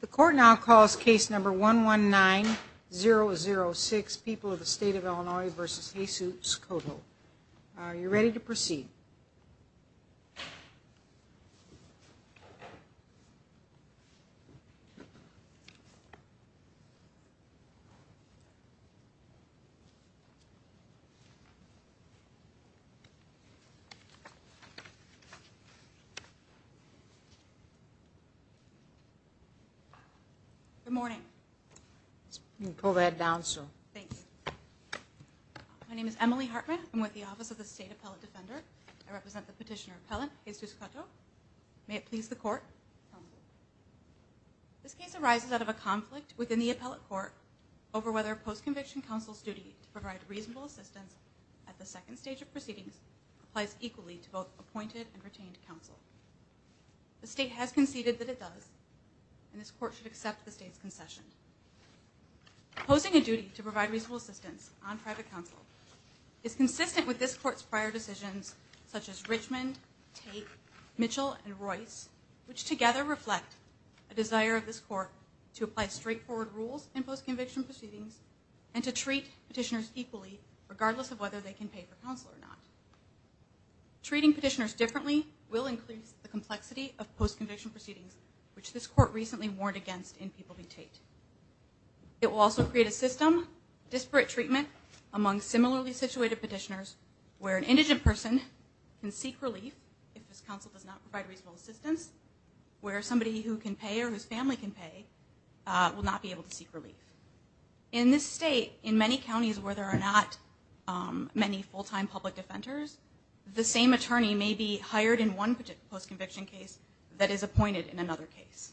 The court now calls case number one one nine zero zero six people of the state of Illinois versus Jesus Cotto. Are you ready to proceed? Good morning. My name is Emily Hartman. I'm with the Office of the State Appellate Defender. I represent the petitioner appellant Jesus Cotto. May it please the court. This case arises out of a conflict within the appellate court over whether post-conviction counsel's duty to provide reasonable assistance at the second stage of proceedings applies equally to both appointed and retained counsel. The state has conceded that it does and this court should accept the state's concession. Posing a duty to provide reasonable assistance on private counsel is consistent with this court's prior decisions such as Richmond, Tate, Mitchell, and Royce which together reflect a desire of this court to apply straightforward rules in post-conviction proceedings and to treat petitioners equally regardless of whether they can pay for counsel or not. Treating petitioners differently will increase the complexity of post-conviction proceedings which this court recently warned against in People v. Tate. It will also create a system disparate treatment among similarly situated petitioners where an indigent person can seek relief if this counsel does not provide reasonable assistance where somebody who can pay or whose family can pay will not be able to seek relief. In this state in many counties where there are not many full-time public defenders the same attorney may be hired in one post-conviction case that is appointed in another case.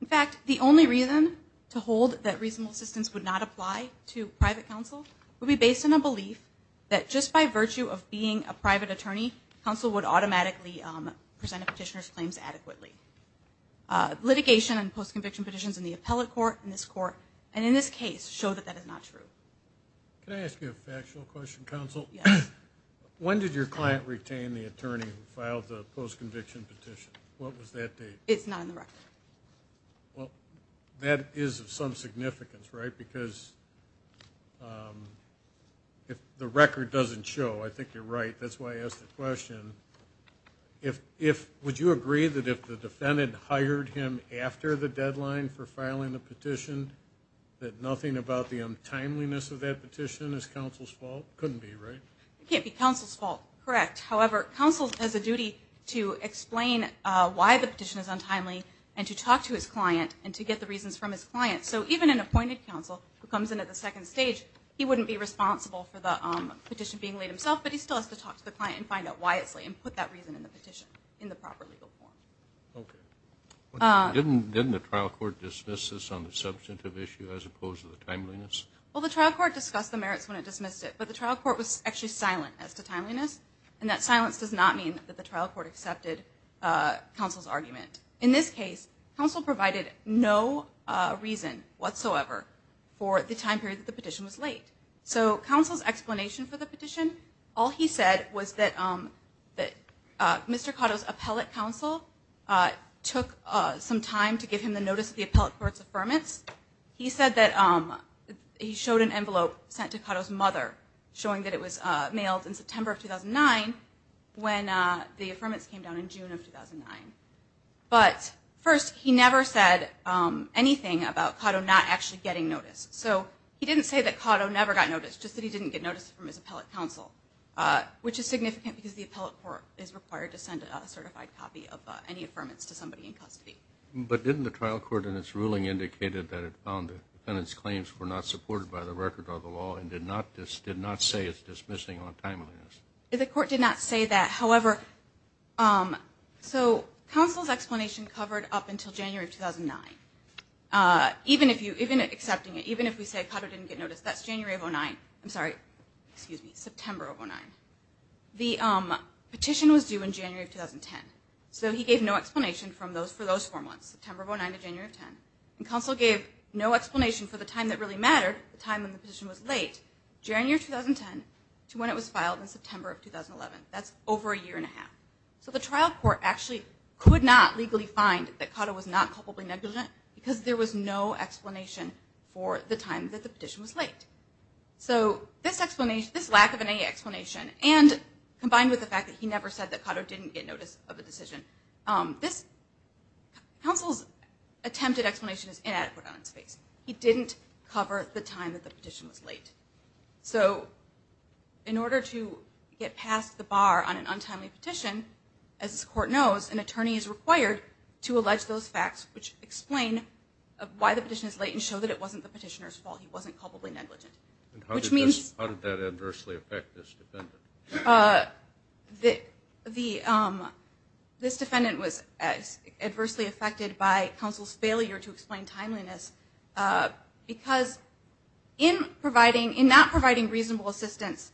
In fact the only reason to hold that reasonable assistance would not apply to private counsel will be based on a belief that just by virtue of being a private attorney counsel would automatically present a petitioner's claims adequately. Litigation and post-conviction petitions in the Can I ask you a factual question counsel? Yes. When did your client retain the attorney who filed the post-conviction petition? What was that date? It's not in the record. Well that is of some significance right because if the record doesn't show I think you're right that's why I asked the question if if would you agree that if the defendant hired him after the deadline for filing the of that petition is counsel's fault? Couldn't be right? It can't be counsel's fault. Correct. However counsel has a duty to explain why the petition is untimely and to talk to his client and to get the reasons from his client so even an appointed counsel who comes in at the second stage he wouldn't be responsible for the petition being laid himself but he still has to talk to the client and find out why it's late and put that reason in the petition in the proper legal form. Okay. Didn't the trial court dismiss this on the issue as opposed to the timeliness? Well the trial court discussed the merits when it dismissed it but the trial court was actually silent as to timeliness and that silence does not mean that the trial court accepted counsel's argument. In this case counsel provided no reason whatsoever for the time period that the petition was late. So counsel's explanation for the petition all he said was that that Mr. Cotto's appellate counsel took some time to give him the appellate court's affirmance. He said that he showed an envelope sent to Cotto's mother showing that it was mailed in September of 2009 when the affirmance came down in June of 2009. But first he never said anything about Cotto not actually getting notice. So he didn't say that Cotto never got noticed just that he didn't get noticed from his appellate counsel which is significant because the appellate court is required to send a certified copy of any affirmance to somebody in custody. But didn't the trial court in its ruling indicated that it found the defendant's claims were not supported by the record or the law and did not say it's dismissing on timeliness? The court did not say that however so counsel's explanation covered up until January of 2009. Even if you even accepting it even if we say Cotto didn't get noticed that's January of 09 I'm sorry excuse me September of 09. The petition was due in 2010 so he gave no explanation from those for those four months September of 09 to January of 10 and counsel gave no explanation for the time that really mattered the time when the petition was late January 2010 to when it was filed in September of 2011. That's over a year and a half. So the trial court actually could not legally find that Cotto was not culpably negligent because there was no explanation for the time that the petition was late. So this explanation this lack of any explanation and combined with the fact that he never said that Cotto didn't get notice of a decision. This counsel's attempted explanation is inadequate on its face. He didn't cover the time that the petition was late. So in order to get past the bar on an untimely petition as this court knows an attorney is required to allege those facts which explain why the petition is late and show that it wasn't the petitioner's fault he wasn't culpably negligent. How did that adversely affect this defendant? This defendant was as adversely affected by counsel's failure to explain timeliness because in providing in not providing reasonable assistance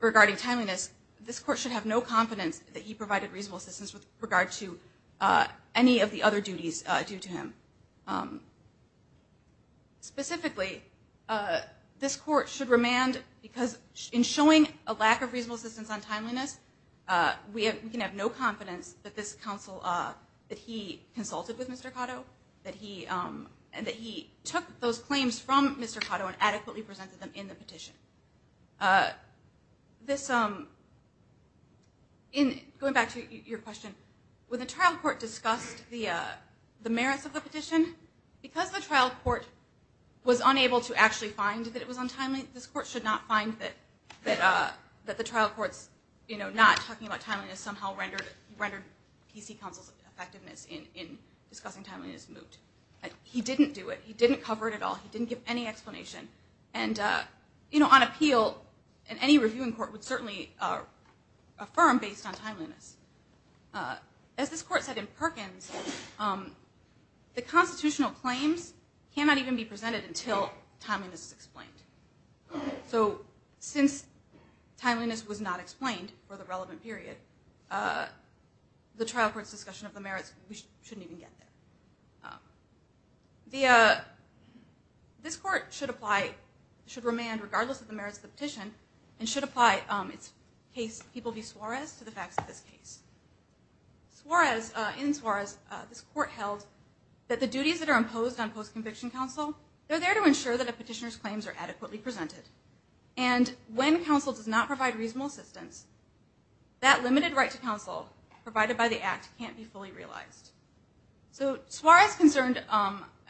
regarding timeliness this court should have no confidence that he provided reasonable assistance with regard to any of the other duties due to him. Specifically this court should remand because in showing a lack of reasonable assistance on timeliness we can have no confidence that this counsel that he consulted with Mr. Cotto that he and that he took those claims from Mr. Cotto and adequately presented them in the petition. Going back to your question when the trial court discussed the merits of the petition because the trial court was unable to actually find that it was untimely this court should not find that the trial courts you know not talking about timeliness somehow rendered PC counsel's effectiveness in discussing timeliness moot. He didn't do it. He didn't cover it at all. He didn't give any explanation and you know on appeal and any reviewing court would certainly affirm based on timeliness. As this court said in Perkins the constitutional claims cannot even be presented until timeliness is explained. So since timeliness was not explained for the relevant period the trial court's of the merits we shouldn't even get there. This court should apply should remand regardless of the merits of the petition and should apply its case People v. Suarez to the facts of this case. In Suarez this court held that the duties that are imposed on post-conviction counsel they're there to ensure that a petitioner's claims are adequately presented and when counsel does not provide reasonable assistance that limited right to counsel provided by the act can't be fully realized. So Suarez concerned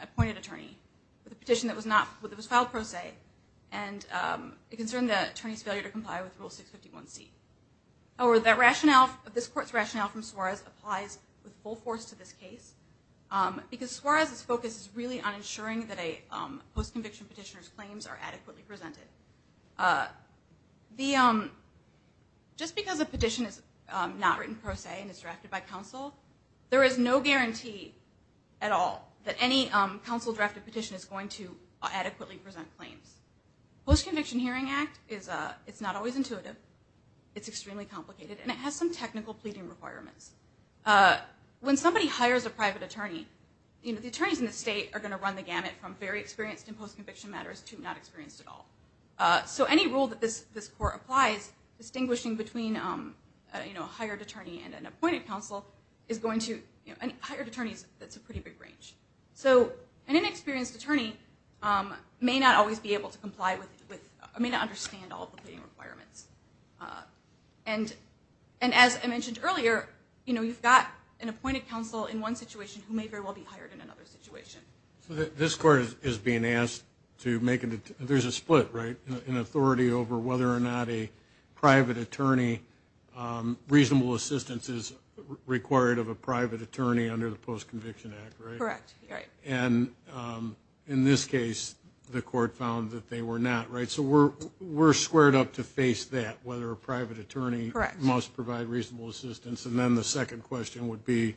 appointed attorney with a petition that was filed pro se and it concerned the attorney's failure to comply with rule 651 C or that rationale of this court's rationale from Suarez applies with full force to this case because Suarez's focus is really on ensuring that a post-conviction petitioner's claims are adequately presented. Just because a petition is not written pro se and it's drafted by counsel there is no guarantee at all that any counsel drafted petition is going to adequately present claims. Post-conviction Hearing Act is a it's not always intuitive it's extremely complicated and it has some technical pleading requirements. When somebody hires a private attorney you know the attorneys in the state are going to run the gamut from very experienced in post-conviction matters to not experienced at all. So any rule that this this court applies distinguishing between you know a hired attorney and an appointed counsel is going to any hired attorneys that's a pretty big range. So an inexperienced attorney may not always be able to comply with with I mean I understand all the requirements and and as I mentioned earlier you know you've got an appointed counsel in one situation who may very well be hired in another situation. So this court is being asked to make it there's a split right in authority over whether or not a private attorney reasonable assistance is required of a private attorney under the Post- Conviction Act right? Correct. And in this case the court found that they were not right so we're we're squared up to face that whether a private attorney must provide reasonable assistance and then the second question would be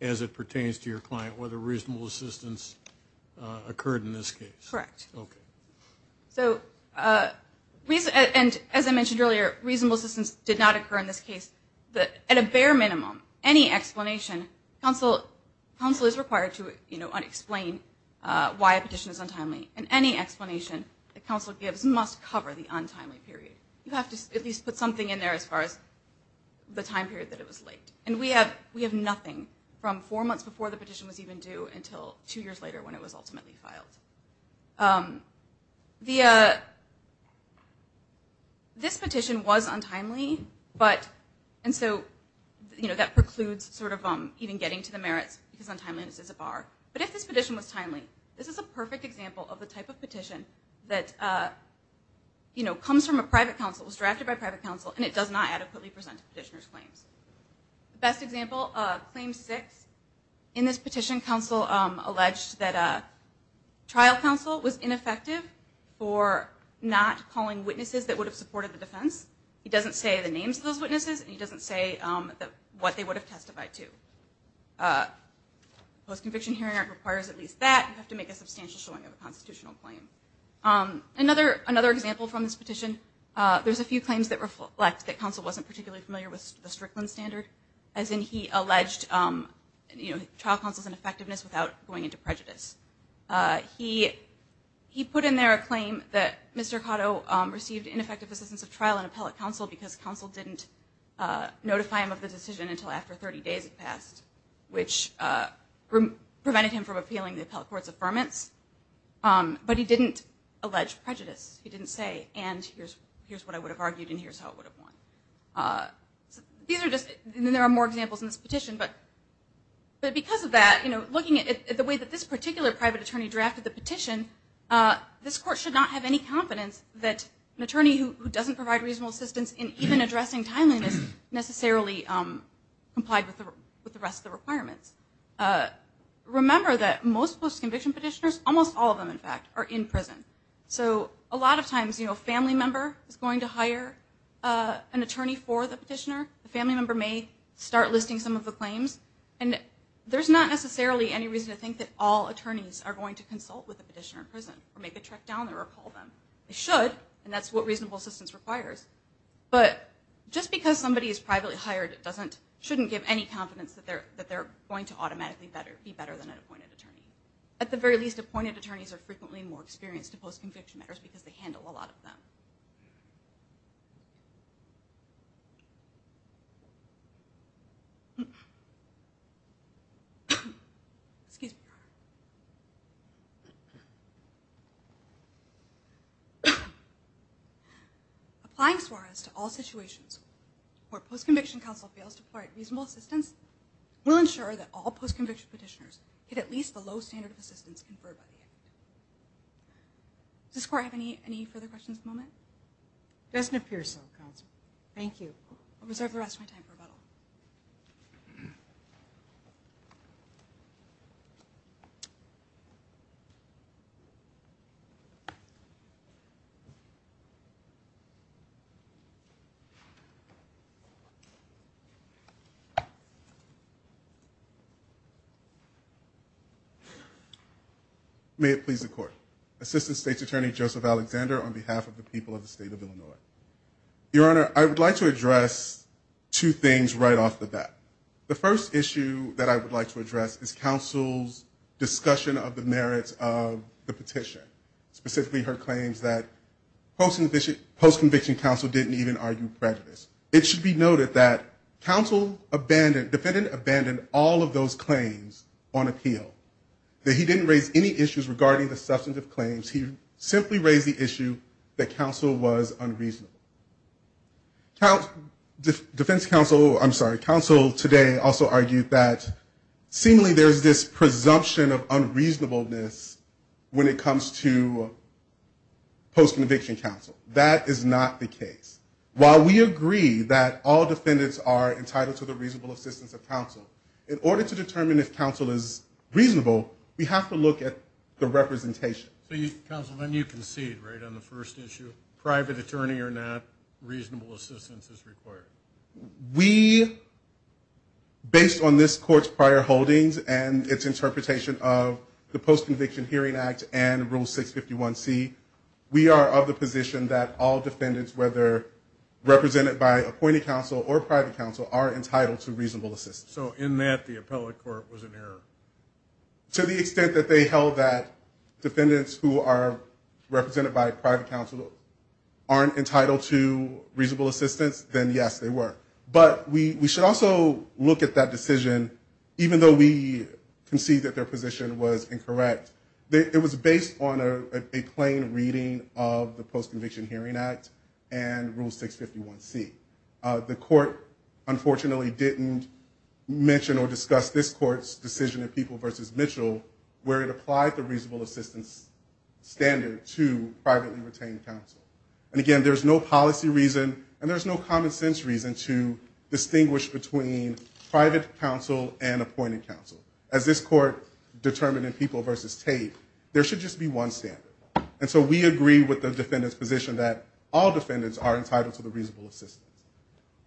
as it pertains to your client whether reasonable assistance occurred in this case. Correct. Okay. So we said and as I mentioned earlier reasonable assistance did not occur in this case but at a bare minimum any explanation counsel counsel is required to you know unexplained why a petition is untimely and any explanation the counsel gives must cover the untimely period. You have to at least put something in there as far as the time period that it was late and we have we have nothing from four months before the petition was even due until two years later when it was ultimately filed. The this petition was untimely but and so you know that precludes sort of um even getting to the merits because untimeliness is a bar but if this petition was timely this is a perfect example of the type of petition that you know comes from a private counsel was drafted by private counsel and it does not adequately present petitioner's claims. The best example of claim six in this petition counsel alleged that a trial counsel was ineffective for not calling witnesses that would have supported the defense. He doesn't say the names of those witnesses and he doesn't say that what they would have testified to. Post-conviction hearing requires at least that you have to make a substantial showing of a constitutional claim. Another another example from this petition there's a few claims that reflect that counsel wasn't particularly familiar with the Strickland standard as in he alleged you know trial counsel's ineffectiveness without going into prejudice. He he put in there a claim that Mr. Cotto received ineffective assistance of trial and appellate counsel because counsel didn't notify him of the decision until after 30 days passed which prevented him from appealing the appellate court's affirmance but he didn't allege prejudice he didn't say and here's here's what I would have argued and here's how it would have won. These are just there are more examples in this petition but but because of that you know looking at the way that this particular private attorney drafted the petition this court should not have any confidence that an attorney who doesn't provide reasonable assistance in even addressing timeliness necessarily complied with the rest of the requirements. Remember that most conviction petitioners almost all of them in fact are in prison so a lot of times you know family member is going to hire an attorney for the petitioner the family member may start listing some of the claims and there's not necessarily any reason to think that all attorneys are going to consult with a petitioner in prison or make a track down there or call them. They should and that's what reasonable assistance requires but just because somebody is privately hired it doesn't shouldn't give any confidence that they're that they're going to at the very least appointed attorneys are frequently more experienced to post conviction matters because they handle a lot of them. Applying Suarez to all situations where post conviction counsel fails to provide reasonable assistance will ensure that all post conviction petitioners get at assistance conferred by the act. Does this court have any any further questions at the moment? Doesn't appear so counsel. Thank you. I'll reserve the rest of my time for rebuttal. May it please the court. Assistant State's Attorney Joseph Alexander on behalf of the people of the state of Illinois. Your Honor I would like to address two things right off the bat. The first issue that I would like to address is counsel's discussion of the merits of the petition. Specifically her claims that post conviction counsel didn't even argue prejudice. It should be noted that counsel abandoned, defendant abandoned all of those claims on appeal. That he didn't raise any issues regarding the substantive claims. He simply raised the issue that counsel was unreasonable. Defense counsel I'm sorry counsel today also argued that seemingly there's this presumption of unreasonableness when it comes to post conviction counsel. That is not the case. While we agree that all defendants are entitled to the reasonable assistance of reasonable. We have to look at the representation. So you counsel then you concede right on the first issue. Private attorney or not reasonable assistance is required. We based on this court's prior holdings and its interpretation of the post conviction hearing act and rule 651 C. We are of the position that all defendants whether represented by appointed counsel or private counsel are entitled to To the extent that they held that defendants who are represented by private counsel aren't entitled to reasonable assistance then yes they were. But we should also look at that decision even though we concede that their position was incorrect. It was based on a plain reading of the post conviction hearing act and rule 651 C. The court unfortunately didn't mention or discuss this court's decision of people versus Mitchell where it applied the reasonable assistance standard to privately retained counsel. And again there's no policy reason and there's no common sense reason to distinguish between private counsel and appointed counsel. As this court determined in people versus Tate there should just be one standard. And so we agree with the defendants position that all defendants are entitled to the reasonable assistance.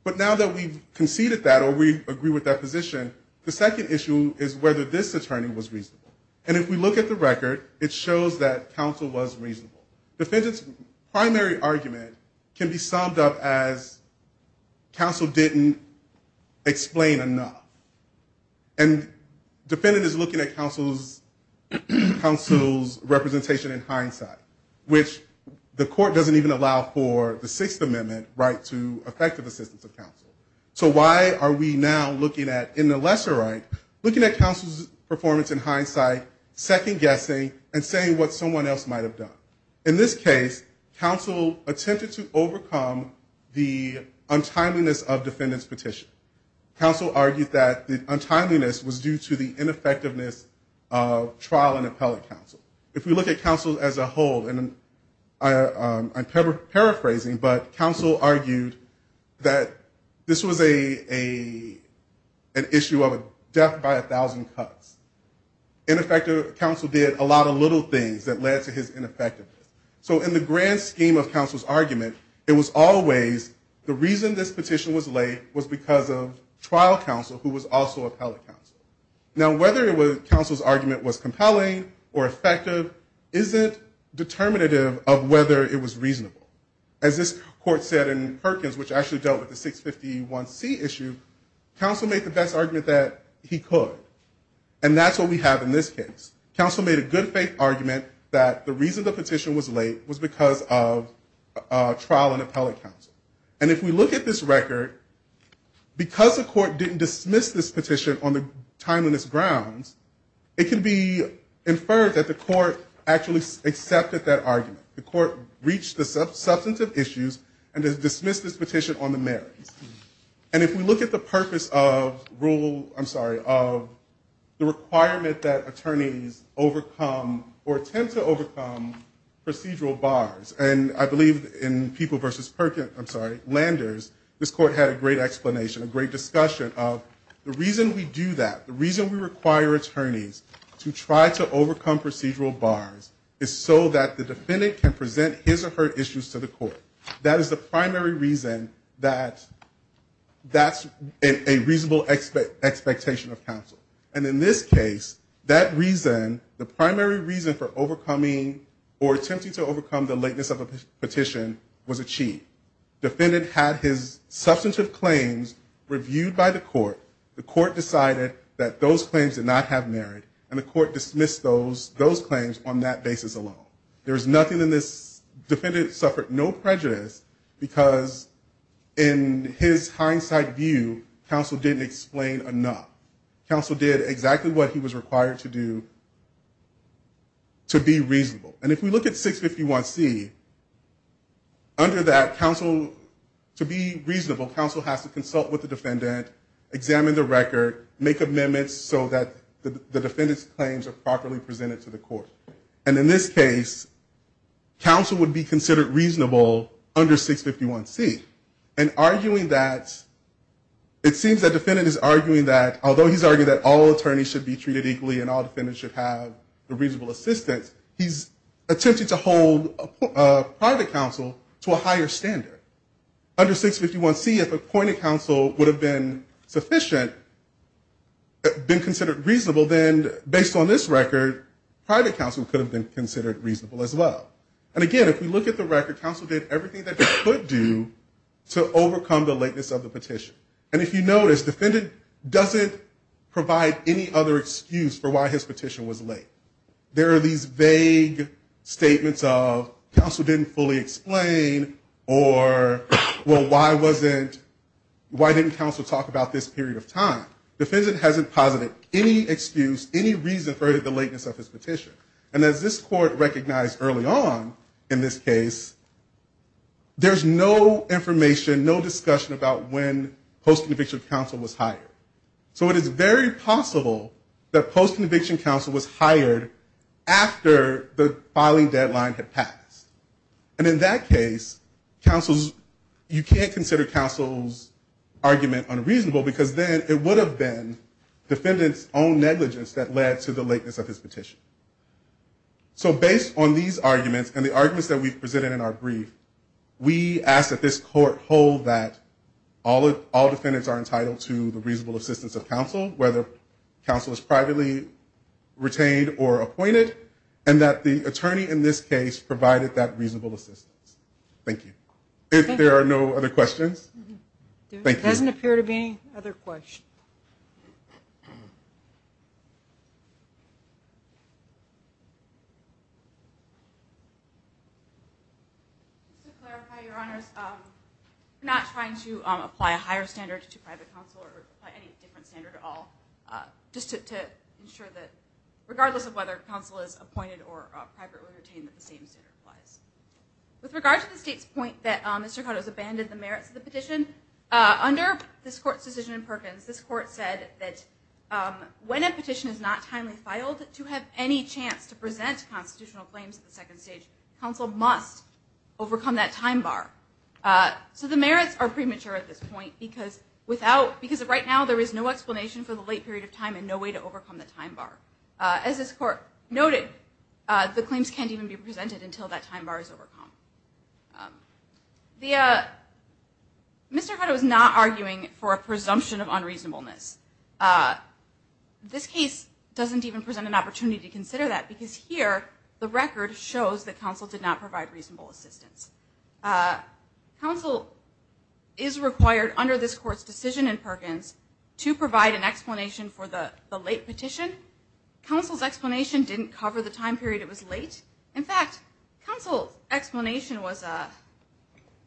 But now that we've conceded that or we agree with that position the second issue is whether this attorney was reasonable. And if we look at the record it shows that counsel was reasonable. Defendants primary argument can be summed up as counsel didn't explain enough. And defendant is looking at counsel's representation in hindsight which the court doesn't even allow for the Sixth Amendment right to effective assistance of counsel. So why are we now looking at in the lesser right looking at counsel's performance in hindsight second guessing and saying what someone else might have done. In this case counsel attempted to overcome the untimeliness of defendants petition. Counsel argued that the untimeliness was due to the ineffectiveness of trial and appellate counsel. If we look at counsel as a whole and I'm paraphrasing but counsel argued that this was an issue of a death by a thousand cuts. In effect counsel did a lot of little things that led to his ineffectiveness. So in the grand scheme of counsel's argument it was always the reason this petition was late was because of trial counsel who was also appellate counsel. Now whether it was counsel's argument was determinative of whether it was reasonable. As this court said in Perkins which actually dealt with the 651C issue, counsel made the best argument that he could. And that's what we have in this case. Counsel made a good faith argument that the reason the petition was late was because of trial and appellate counsel. And if we look at this record because the court didn't dismiss this petition on the timeliness grounds it can be inferred that the court reached the substantive issues and dismissed this petition on the merits. And if we look at the purpose of rule, I'm sorry, of the requirement that attorneys overcome or attempt to overcome procedural bars. And I believe in People v. Landers this court had a great explanation, a great discussion of the reason we do that, the reason we require attorneys to try to overcome that the defendant can present his or her issues to the court. That is the primary reason that that's a reasonable expectation of counsel. And in this case that reason, the primary reason for overcoming or attempting to overcome the lateness of a petition was achieved. Defendant had his substantive claims reviewed by the court. The court decided that those claims did not have merit and the court dismissed those claims on that basis alone. There was nothing in this, defendant suffered no prejudice because in his hindsight view counsel didn't explain enough. Counsel did exactly what he was required to do to be reasonable. And if we look at 651C, under that counsel, to be reasonable counsel has to consult with the defendant, examine the record, make sure the defendant's claims are properly presented to the court. And in this case counsel would be considered reasonable under 651C. And arguing that, it seems that defendant is arguing that although he's arguing that all attorneys should be treated equally and all defendants should have a reasonable assistance, he's attempting to hold private counsel to a higher standard. Under 651C if appointed counsel would have been sufficient, been considered reasonable, then based on this record private counsel could have been considered reasonable as well. And again, if we look at the record, counsel did everything that he could do to overcome the lateness of the petition. And if you notice, defendant doesn't provide any other excuse for why his petition was late. There are these vague statements of counsel didn't fully explain or, well, why didn't counsel talk about this period of time? Defendant hasn't posited any excuse, any reason for the lateness of his petition. And as this court recognized early on in this case, there's no information, no discussion about when post-conviction counsel was hired. So it is very possible that post-conviction counsel was hired after the filing deadline had passed. And in that case, counsel's, you can't consider counsel's argument unreasonable because then it would have been defendant's own negligence that led to the lateness of his petition. So based on these arguments and the arguments that we've presented in our brief, we ask that this court hold that all defendants are entitled to the reasonable assistance of counsel, whether counsel is privately retained or appointed, and that the attorney in this case provided that reasonable assistance. Thank you. If there are no other questions, thank you. If there doesn't appear to be any other questions. Just to clarify, Your Honors, we're not trying to apply a higher standard to private counsel or apply any different standard at all. Just to ensure that regardless of whether counsel is appointed or privately retained, that the same standard applies. With regard to the state's point that Mr. Cotto has abandoned the merits of the petition, under this court's decision in Perkins, this court said that when a petition is not timely filed, to have any chance to present constitutional claims at the second stage, counsel must overcome that time bar. So the merits are premature at this point because of right now there is no explanation for the late period of time and no way to overcome the time bar. As this court noted, the claims can't even be presented until that time bar is met. Mr. Cotto is not arguing for a presumption of unreasonableness. This case doesn't even present an opportunity to consider that because here the record shows that counsel did not provide reasonable assistance. Counsel is required under this court's decision in Perkins to provide an explanation for the late petition. Counsel's explanation didn't cover the time period it was late. In fact, counsel's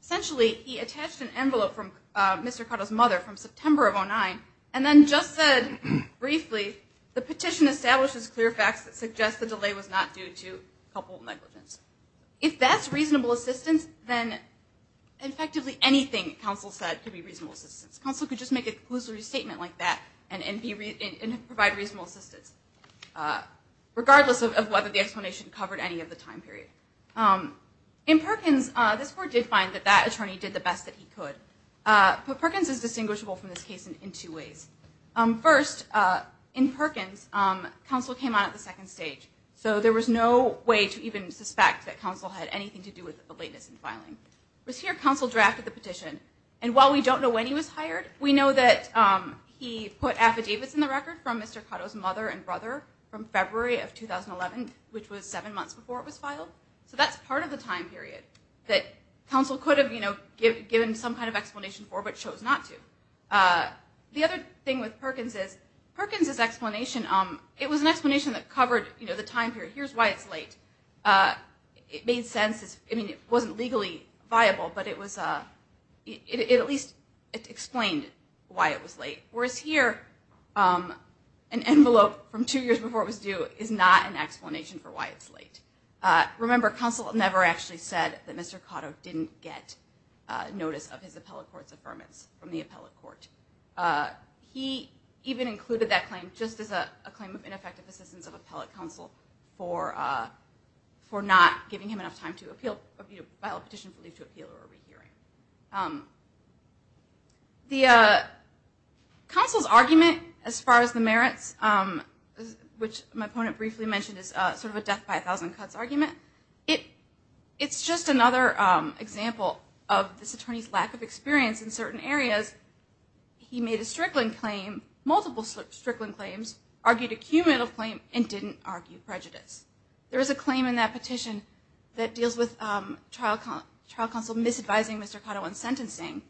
essentially, he attached an envelope from Mr. Cotto's mother from September of 2009 and then just said briefly, the petition establishes clear facts that suggest the delay was not due to couple negligence. If that's reasonable assistance, then effectively anything counsel said could be reasonable assistance. Counsel could just make a conclusive statement like that and provide reasonable assistance, regardless of whether the explanation covered any of the time period. In Perkins, this court did find that that attorney did the best that he could. Perkins is distinguishable from this case in two ways. First, in Perkins, counsel came on at the second stage, so there was no way to even suspect that counsel had anything to do with the lateness in filing. It was here counsel drafted the petition and while we don't know when he was hired, we know that he put affidavits in the record from Mr. Cotto's mother and brother from February of 2011, which was seven months before it was filed. So that's part of the time period that counsel could have, you know, given some kind of explanation for, but chose not to. The other thing with Perkins is, Perkins' explanation, it was an explanation that covered, you know, the time period. Here's why it's late. It made sense, I mean, it wasn't legally viable, but it was, it at least explained why it was late. Whereas here, an envelope from two years before it was due is not an explanation for why it's late. Remember, counsel never actually said that Mr. Cotto didn't get notice of his appellate court's affirmance from the appellate court. He even included that claim just as a claim of ineffective assistance of appellate counsel for not giving him enough time to appeal, you know, file a petition for leave to appeal or which my opponent briefly mentioned is sort of a death by a thousand cuts argument. It's just another example of this attorney's lack of experience in certain areas. He made a strickling claim, multiple strickling claims, argued a cumulative claim, and didn't argue prejudice. There is a claim in that petition that deals with trial counsel misadvising Mr. Cotto on sentencing,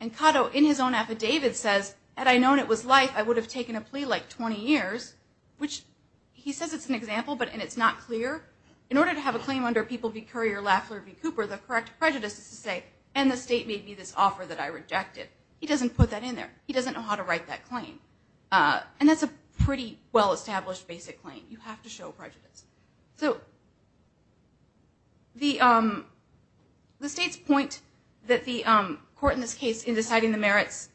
and Cotto, in his own affidavit, says, had I known it was life, I would have taken a plea like 20 years, which he says it's an example, but it's not clear. In order to have a claim under People v. Curry or Lafler v. Cooper, the correct prejudice is to say, and the state made me this offer that I rejected. He doesn't put that in there. He doesn't know how to write that claim. And that's a pretty well-established basic claim. You have to show prejudice. So the state's point that the court in this case, in deciding the merits,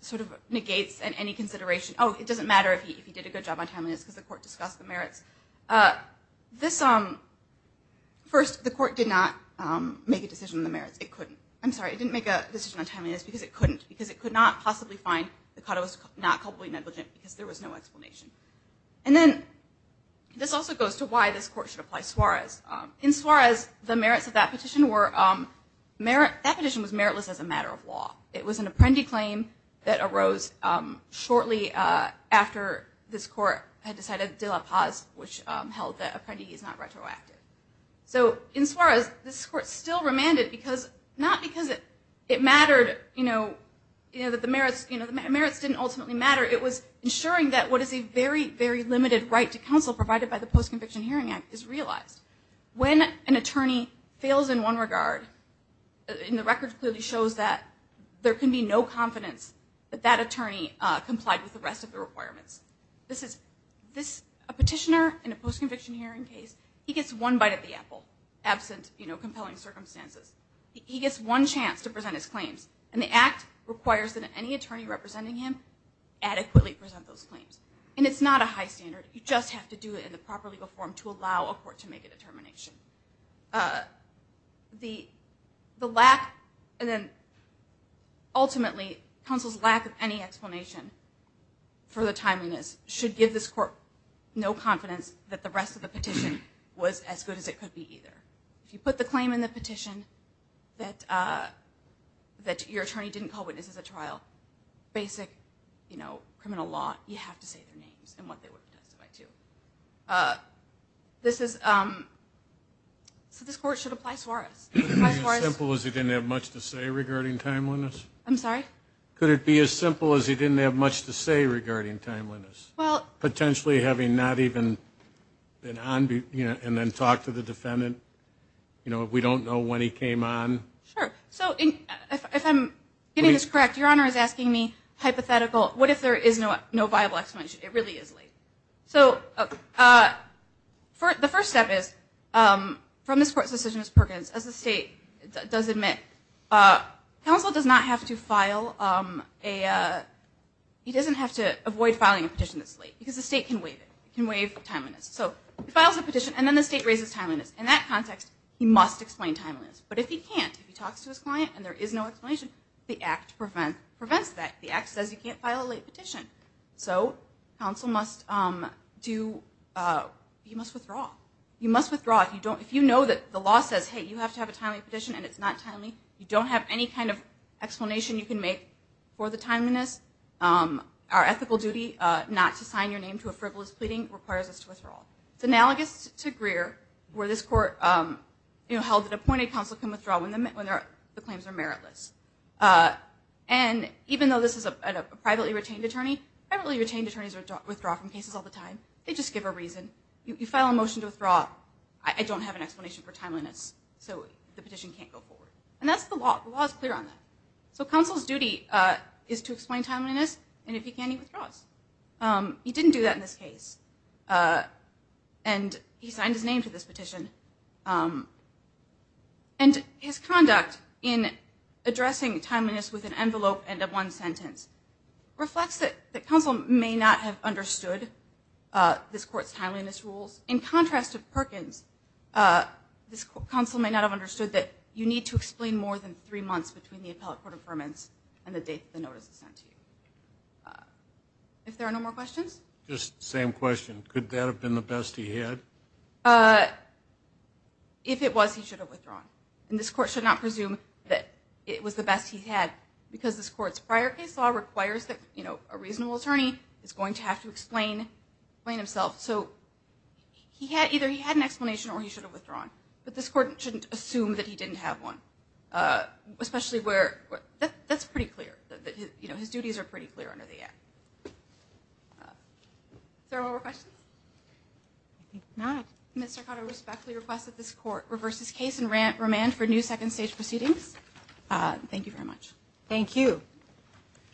sort of negates any consideration, oh, it doesn't matter if he did a good job on timeliness because the court discussed the merits. First, the court did not make a decision on the merits. It couldn't. I'm sorry, it didn't make a decision on timeliness because it couldn't, because it could not possibly find that Cotto was not culpably negligent because there was no explanation. And then this also goes to why this court should apply Suarez. In Suarez, the merits of that petition were meritless as a matter of law. It was an apprendee claim that rose shortly after this court had decided De La Paz, which held that an apprentice is not retroactive. So in Suarez, this court still remanded because, not because it mattered, you know, that the merits didn't ultimately matter. It was ensuring that what is a very, very limited right to counsel provided by the Post-Conviction Hearing Act is realized. When an attorney fails in one regard, and the record clearly shows that, there can be no confidence that that attorney complied with the rest of the requirements. A petitioner in a post-conviction hearing case, he gets one bite at the apple, absent, you know, compelling circumstances. He gets one chance to present his claims, and the Act requires that any attorney representing him adequately present those claims. And it's not a high standard. You just have to do it in the proper legal form to allow a court to make a determination. The lack, and then ultimately, counsel's lack of any explanation for the timeliness should give this court no confidence that the rest of the petition was as good as it could be either. If you put the claim in the petition, that your attorney didn't call witnesses at trial, basic, you know, criminal law, you have to say their names and what they were testified to. So this court should apply Suarez. Could it be as simple as he didn't have much to say regarding timeliness? I'm sorry? Could it be as simple as he didn't have much to say regarding timeliness? Well, potentially having not even been on, you know, and then talked to the defendant, you know, if we don't know when he came on? Sure. So if I'm getting this correct, your Honor is asking me hypothetical, what if there is no no viable explanation? It really is The first step is, from this court's decision as Perkins, as the state does admit, counsel does not have to file a, he doesn't have to avoid filing a petition that's late because the state can waive it, can waive timeliness. So he files a petition and then the state raises timeliness. In that context, he must explain timeliness. But if he can't, if he talks to his client and there is no explanation, the Act prevents that. The Act says you can't file a late you must withdraw. You must withdraw if you don't, if you know that the law says hey, you have to have a timely petition and it's not timely, you don't have any kind of explanation you can make for the timeliness, our ethical duty not to sign your name to a frivolous pleading requires us to withdraw. It's analogous to Greer, where this court, you know, held that appointed counsel can withdraw when the claims are meritless. And even though this is a privately retained attorney, privately retained attorneys withdraw from time to time, they just give a reason. You file a motion to withdraw, I don't have an explanation for timeliness, so the petition can't go forward. And that's the law, the law is clear on that. So counsel's duty is to explain timeliness and if he can, he withdraws. He didn't do that in this case and he signed his name to this petition. And his conduct in addressing timeliness with an envelope and a one this court's timeliness rules. In contrast of Perkins, this counsel may not have understood that you need to explain more than three months between the appellate court of permits and the date the notice is sent to you. If there are no more questions? Just same question, could that have been the best he had? If it was, he should have withdrawn. And this court should not presume that it was the best he had because this court's prior case law requires that, you know, a reasonable plain himself. So he had either he had an explanation or he should have withdrawn. But this court shouldn't assume that he didn't have one. Especially where that's pretty clear that you know, his duties are pretty clear under the act. There are more questions? Mr. Cotto respectfully request that this court reverses case and remand for new second stage proceedings. Thank you very much. Thank you.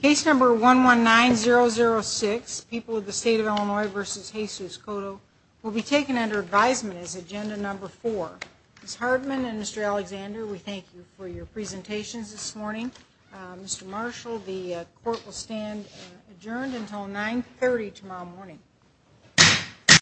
Case number 119006 people of the state of Illinois versus Jesus Cotto will be taken under advisement. His agenda number four is Hardman and Mr Alexander. We thank you for your presentations this morning. Mr Marshall, the court will stand adjourned until 9 30 tomorrow morning.